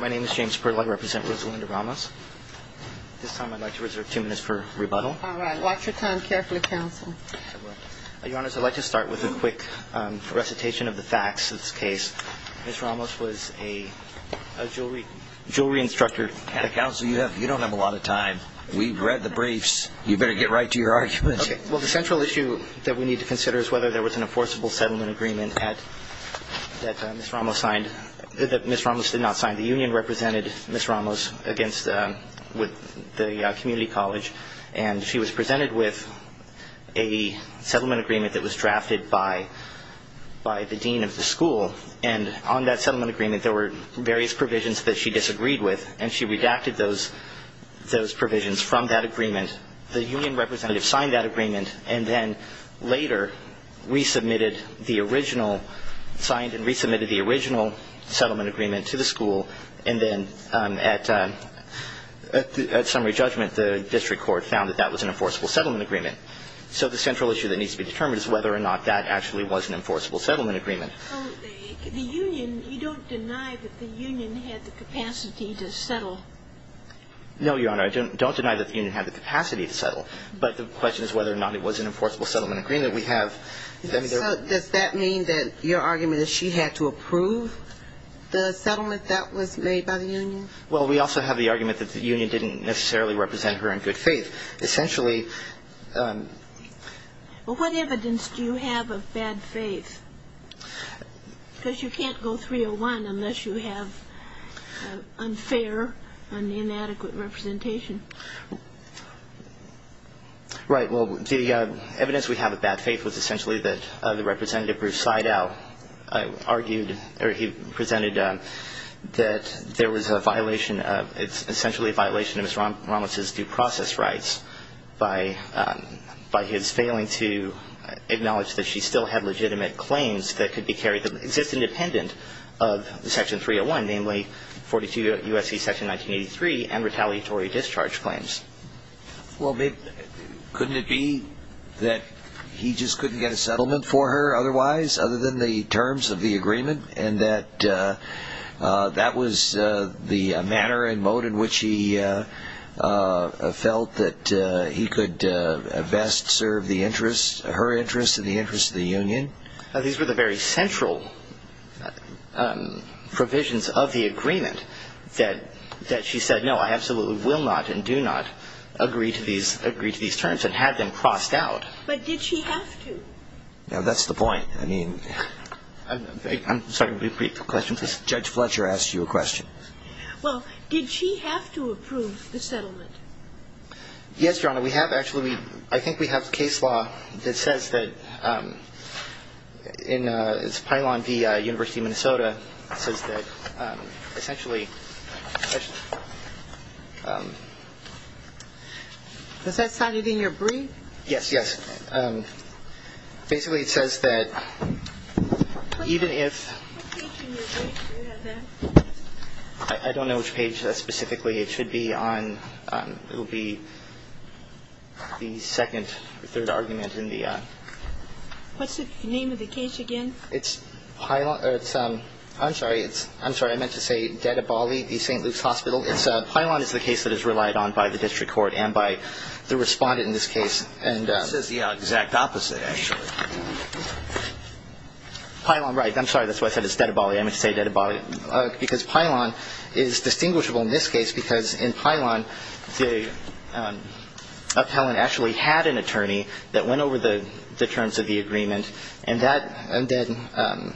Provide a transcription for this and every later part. My name is James Perlow. I represent Ms. Linda Ramos. This time I'd like to reserve two minutes for rebuttal. All right. Watch your time carefully, Counsel. I will. Your Honors, I'd like to start with a quick recitation of the facts of this case. Ms. Ramos was a jewelry instructor. Counsel, you don't have a lot of time. We've read the briefs. You'd better get right to your argument. Okay. Well, the central issue that we need to consider is whether there was an enforceable settlement agreement that Ms. Ramos signed that Ms. Ramos did not sign. The union represented Ms. Ramos with the community college, and she was presented with a settlement agreement that was drafted by the dean of the school. And on that settlement agreement, there were various provisions that she disagreed with, and she redacted those provisions from that agreement. And the union representative signed that agreement and then later resubmitted the original signed and resubmitted the original settlement agreement to the school. And then at summary judgment, the district court found that that was an enforceable settlement agreement. So the central issue that needs to be determined is whether or not that actually was an enforceable settlement agreement. The union, you don't deny that the union had the capacity to settle. No, Your Honor, I don't deny that the union had the capacity to settle, but the question is whether or not it was an enforceable settlement agreement. We have – So does that mean that your argument is she had to approve the settlement that was made by the union? Well, we also have the argument that the union didn't necessarily represent her in good faith. Essentially – Well, what evidence do you have of bad faith? Because you can't go 301 unless you have unfair and inadequate representation. Right. Well, the evidence we have of bad faith was essentially that the representative Bruce Seidel argued or he presented that there was a violation of – it's essentially a violation of Ms. Ramos' due process rights by his failing to acknowledge that she still had legitimate claims that could be carried – that exist independent of Section 301, namely 42 U.S.C. Section 1983 and retaliatory discharge claims. Well, couldn't it be that he just couldn't get a settlement for her otherwise, other than the terms of the agreement, and that that was the manner and mode in which he felt that he could best serve the interests – her interests and the interests of the union? These were the very central provisions of the agreement that she said, no, I absolutely will not and do not agree to these terms and had them crossed out. But did she have to? Now, that's the point. I mean – I'm sorry to repeat the question. Judge Fletcher asked you a question. Well, did she have to approve the settlement? Yes, Your Honor. We have actually – I think we have case law that says that in – it's Pylon v. University of Minnesota. It says that essentially – Was that cited in your brief? Yes, yes. Basically, it says that even if – What page in your brief do you have that? I don't know which page specifically. It should be on – it will be the second or third argument in the – What's the name of the case again? It's Pylon – or it's – I'm sorry. I'm sorry. I meant to say Dedibali v. St. Luke's Hospital. Pylon is the case that is relied on by the district court and by the respondent in this case. It says the exact opposite, actually. Pylon, right. I'm sorry. That's why I said it's Dedibali. I meant to say Dedibali because Pylon is distinguishable in this case because in Pylon, the appellant actually had an attorney that went over the terms of the agreement, and that – and then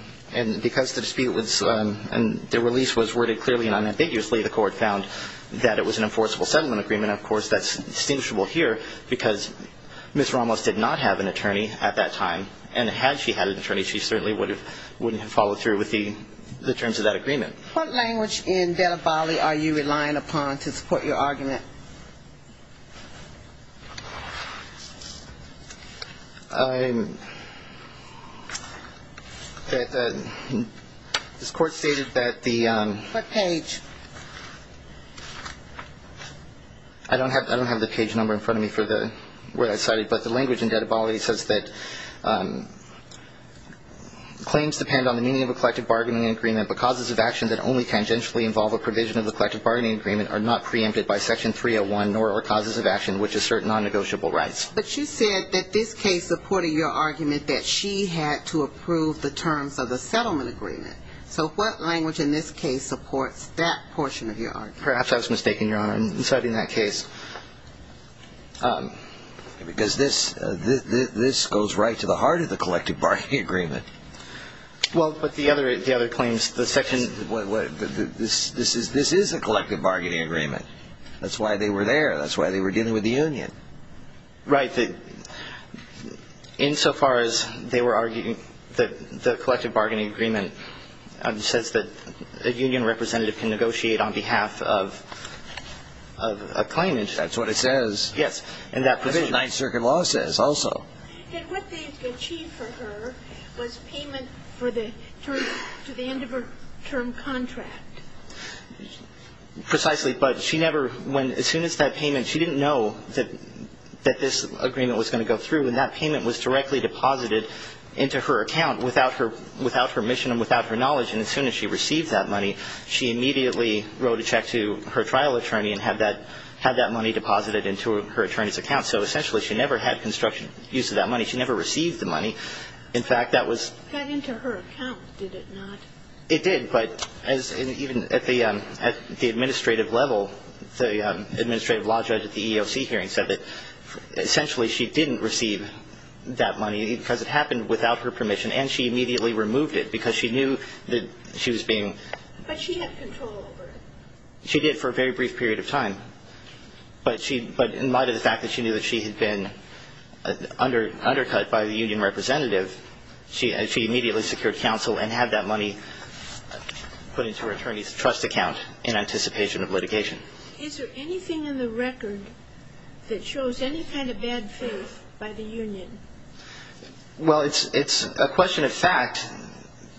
– and because the dispute was – and the release was worded clearly and unambiguously, the court found that it was an enforceable settlement agreement, of course. That's distinguishable here because Ms. Ramos did not have an attorney at that time, and had she had an attorney, she certainly wouldn't have followed through with the terms of that agreement. What language in Dedibali are you relying upon to support your argument? This court stated that the – What page? I don't have the page number in front of me for the word I cited, but the language in Dedibali says that claims depend on the meaning of a collective bargaining agreement, but causes of action that only tangentially involve a provision of a collective bargaining agreement are not preempted by Section 301, nor are causes of action which assert non-negotiable rights. But you said that this case supported your argument that she had to approve the terms of the settlement agreement. So what language in this case supports that portion of your argument? Perhaps I was mistaken, Your Honor, in citing that case. Because this goes right to the heart of the collective bargaining agreement. Well, but the other claims, the Section – This is a collective bargaining agreement. That's why they were there. That's why they were dealing with the union. Right. Insofar as they were arguing that the collective bargaining agreement says that a union Yes. And that provision. That's what Ninth Circuit law says also. And what they achieved for her was payment to the end of her term contract. Precisely. But she never – as soon as that payment – she didn't know that this agreement was going to go through. And that payment was directly deposited into her account without her mission and without her knowledge. And as soon as she received that money, she immediately wrote a check to her trial attorney and had that money deposited into her attorney's account. So, essentially, she never had construction use of that money. She never received the money. In fact, that was – It got into her account, did it not? It did. But even at the administrative level, the administrative law judge at the EEOC hearing said that, essentially, she didn't receive that money because it happened without her permission. And she immediately removed it because she knew that she was being – But she had control over it. She did for a very brief period of time. But in light of the fact that she knew that she had been undercut by the union representative, she immediately secured counsel and had that money put into her attorney's trust account in anticipation of litigation. Is there anything in the record that shows any kind of bad faith by the union? Well, it's a question of fact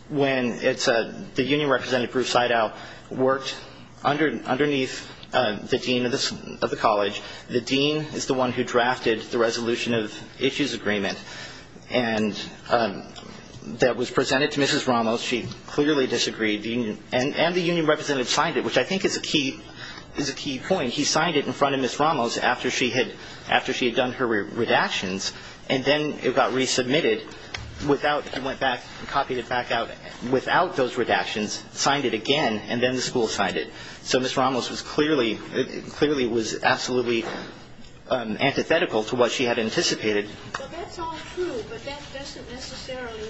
when the union representative, Bruce Seidow, worked underneath the dean of the college. The dean is the one who drafted the resolution of issues agreement that was presented to Mrs. Ramos. She clearly disagreed. And the union representative signed it, which I think is a key point. And he signed it in front of Mrs. Ramos after she had done her redactions. And then it got resubmitted without – he went back and copied it back out without those redactions, signed it again, and then the school signed it. So Mrs. Ramos clearly was absolutely antithetical to what she had anticipated. Well, that's all true, but that doesn't necessarily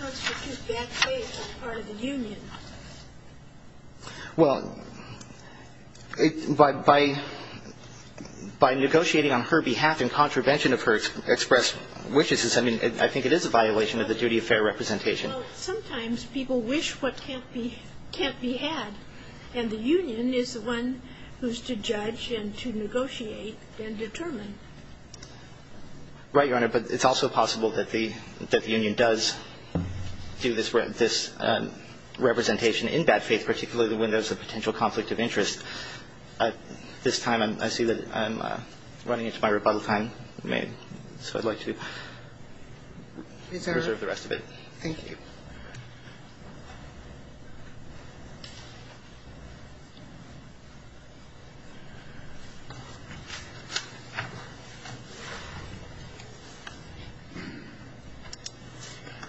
constitute bad faith on the part of the union. Well, by negotiating on her behalf in contravention of her expressed wishes, I mean, I think it is a violation of the duty of fair representation. Well, sometimes people wish what can't be had, and the union is the one who's to judge and to negotiate and determine. Right, Your Honor. But it's also possible that the union does do this representation in bad faith, particularly when there's a potential conflict of interest. At this time, I see that I'm running into my rebuttal time, so I'd like to reserve the rest of it. Thank you.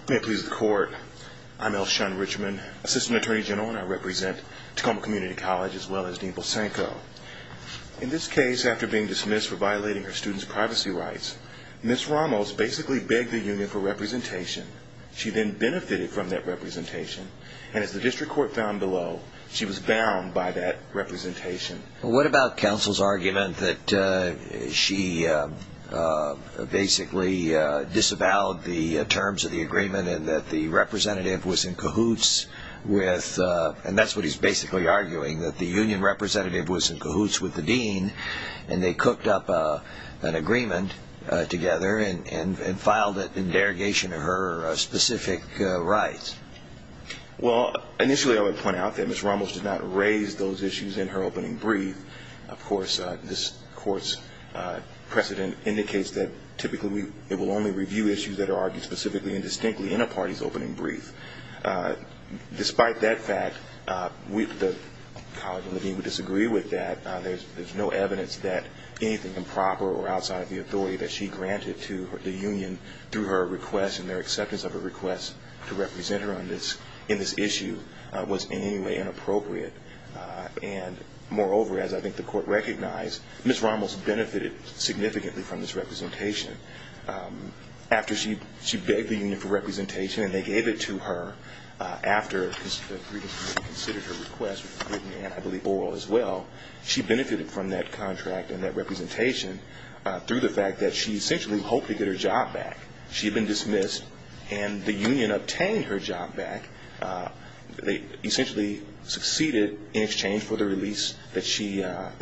May it please the Court, I'm L. Shun Richmond, Assistant Attorney General, and I represent Tacoma Community College as well as Dean Vilsenko. In this case, after being dismissed for violating her students' privacy rights, Ms. Ramos basically begged the union for representation. She then benefited from that representation, and as the district court found below, she was bound by that representation. What about counsel's argument that she basically disavowed the terms of the agreement and that the representative was in cahoots with, and that's what he's basically arguing, that the union representative was in cahoots with the dean, and they cooked up an agreement together and filed it in derogation of her specific rights? Well, initially I would point out that Ms. Ramos did not raise those issues in her opening brief. Of course, this Court's precedent indicates that typically it will only review issues that are argued specifically and distinctly in a party's opening brief. Despite that fact, the college and the dean would disagree with that. There's no evidence that anything improper or outside of the authority that she granted to the union through her request and their acceptance of her request to represent her in this issue was in any way inappropriate. And moreover, as I think the Court recognized, Ms. Ramos benefited significantly from this representation. After she begged the union for representation and they gave it to her, after the three of them had considered her request written and, I believe, oral as well, she benefited from that contract and that representation through the fact that she essentially hoped to get her job back. She had been dismissed, and the union obtained her job back. They essentially succeeded in exchange for the release that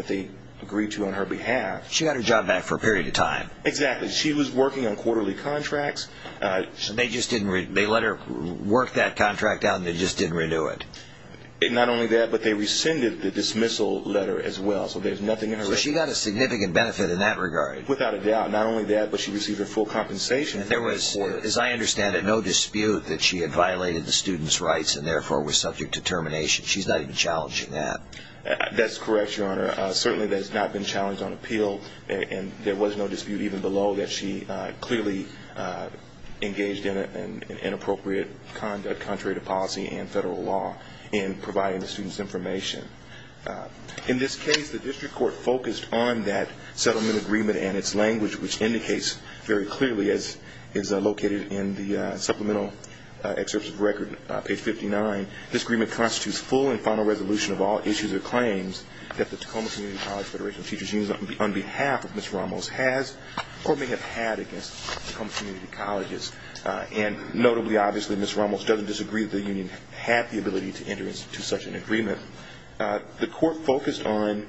they agreed to on her behalf. She got her job back for a period of time. Exactly. She was working on quarterly contracts. They let her work that contract out and they just didn't renew it? Not only that, but they rescinded the dismissal letter as well, so there's nothing in her record. So she got a significant benefit in that regard. Without a doubt. Not only that, but she received her full compensation. There was, as I understand it, no dispute that she had violated the student's rights and therefore was subject to termination. She's not even challenging that. That's correct, Your Honor. Certainly that has not been challenged on appeal, and there was no dispute even below that she clearly engaged in inappropriate conduct contrary to policy and federal law in providing the student's information. In this case, the district court focused on that settlement agreement and its language, which indicates very clearly, as is located in the supplemental excerpt of the record, page 59, this agreement constitutes full and final resolution of all issues or claims that the Tacoma Community College Federation Teachers Union, on behalf of Ms. Ramos, has or may have had against Tacoma Community Colleges. And notably, obviously, Ms. Ramos doesn't disagree that the union had the ability to enter into such an agreement. The court focused on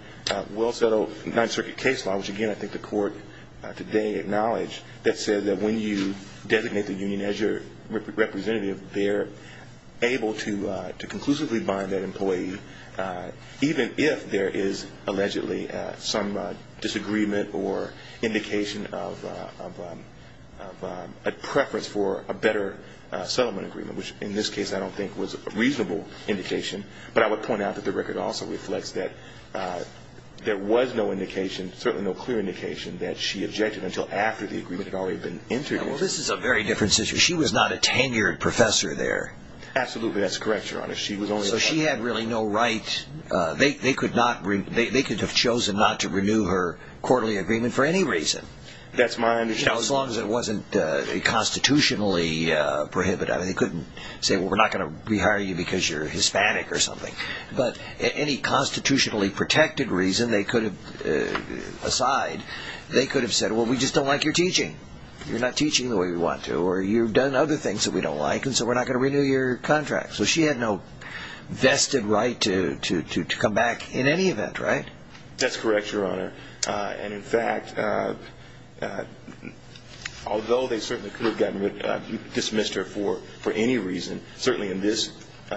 well-settled Ninth Circuit case law, which, again, I think the court today acknowledged, that said that when you designate the union as your representative, they're able to conclusively bind that employee, even if there is allegedly some disagreement or indication of a preference for a better settlement agreement, which in this case I don't think was a reasonable indication. But I would point out that the record also reflects that there was no indication, certainly no clear indication that she objected until after the agreement had already been entered into. Well, this is a very different situation. She was not a tenured professor there. Absolutely, that's correct, Your Honor. So she had really no right. They could have chosen not to renew her quarterly agreement for any reason. That's my understanding. As long as it wasn't constitutionally prohibited. I mean, they couldn't say, well, we're not going to rehire you because you're Hispanic or something. But any constitutionally protected reason aside, they could have said, well, we just don't like your teaching. You're not teaching the way we want to, or you've done other things that we don't like, and so we're not going to renew your contract. So she had no vested right to come back in any event, right? That's correct, Your Honor. And, in fact, although they certainly could have dismissed her for any reason, certainly in this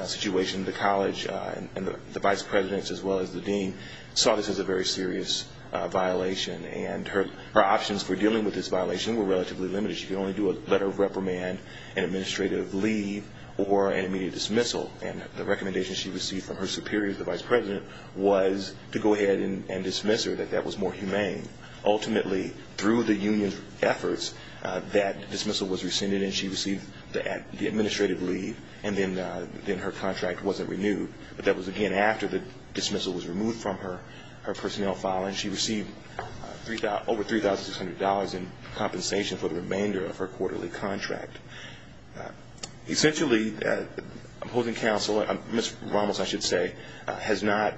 situation the college and the vice presidents as well as the dean saw this as a very serious violation. And her options for dealing with this violation were relatively limited. She could only do a letter of reprimand, an administrative leave, or an immediate dismissal. And the recommendation she received from her superiors, the vice president, was to go ahead and dismiss her, that that was more humane. Ultimately, through the union's efforts, that dismissal was rescinded and she received the administrative leave and then her contract wasn't renewed. But that was, again, after the dismissal was removed from her personnel file, and she received over $3,600 in compensation for the remainder of her quarterly contract. Essentially, opposing counsel, Ms. Ramos, I should say, has not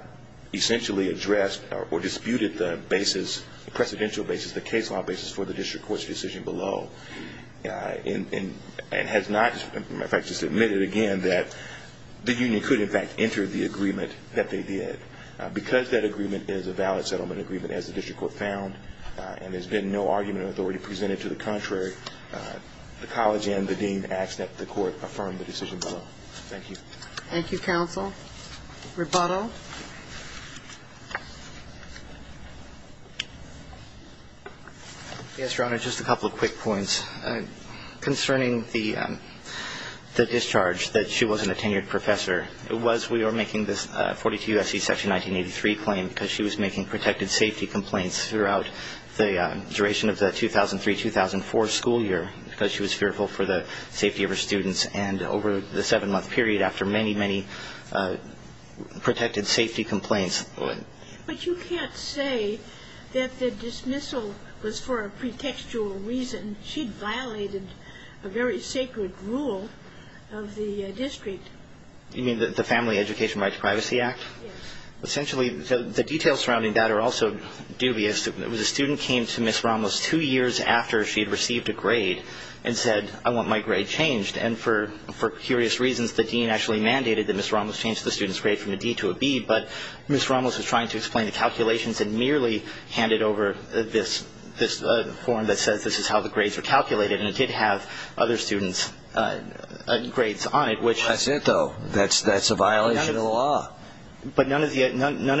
essentially addressed or disputed the basis, the precedential basis, the case law basis for the district court's decision below, and has not, in fact, just admitted again that the union could, in fact, enter the agreement that they did. Because that agreement is a valid settlement agreement, as the district court found, and there's been no argument of authority presented to the contrary, the college and the dean ask that the court affirm the decision below. Thank you. Thank you, counsel. Rebuttal. Yes, Your Honor, just a couple of quick points. Concerning the discharge, that she wasn't a tenured professor, it was we were making this 42 U.S.C. Section 1983 claim because she was making protected safety complaints throughout the duration of the 2003-2004 school year because she was fearful for the safety of her students, and over the seven-month period after many, many protected safety complaints. But you can't say that the dismissal was for a pretextual reason. She violated a very sacred rule of the district. You mean the Family Education Rights Privacy Act? Yes. Essentially, the details surrounding that are also dubious. It was a student came to Ms. Ramos two years after she had received a grade and said, I want my grade changed, and for curious reasons, the dean actually mandated that Ms. Ramos change the student's grade from a D to a B, but Ms. Ramos was trying to explain the calculations and merely handed over this form that says this is how the grades are calculated, and it did have other students' grades on it, which. That's it, though. That's a violation of the law. But none of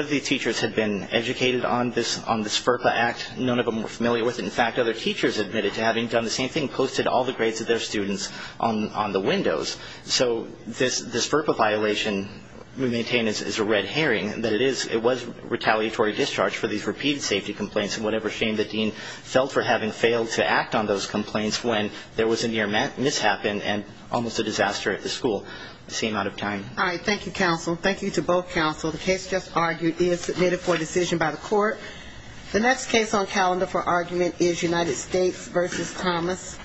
the teachers had been educated on this FERPA Act. None of them were familiar with it. In fact, other teachers admitted to having done the same thing, posted all the grades of their students on the windows. So this FERPA violation we maintain is a red herring, that it was retaliatory discharge for these repeated safety complaints, and whatever shame the dean felt for having failed to act on those complaints when there was a near mishap and almost a disaster at the school. It seemed out of time. All right. Well, thank you, counsel. Thank you to both counsel. The case just argued is submitted for decision by the court. The next case on calendar for argument is United States v. Thomas.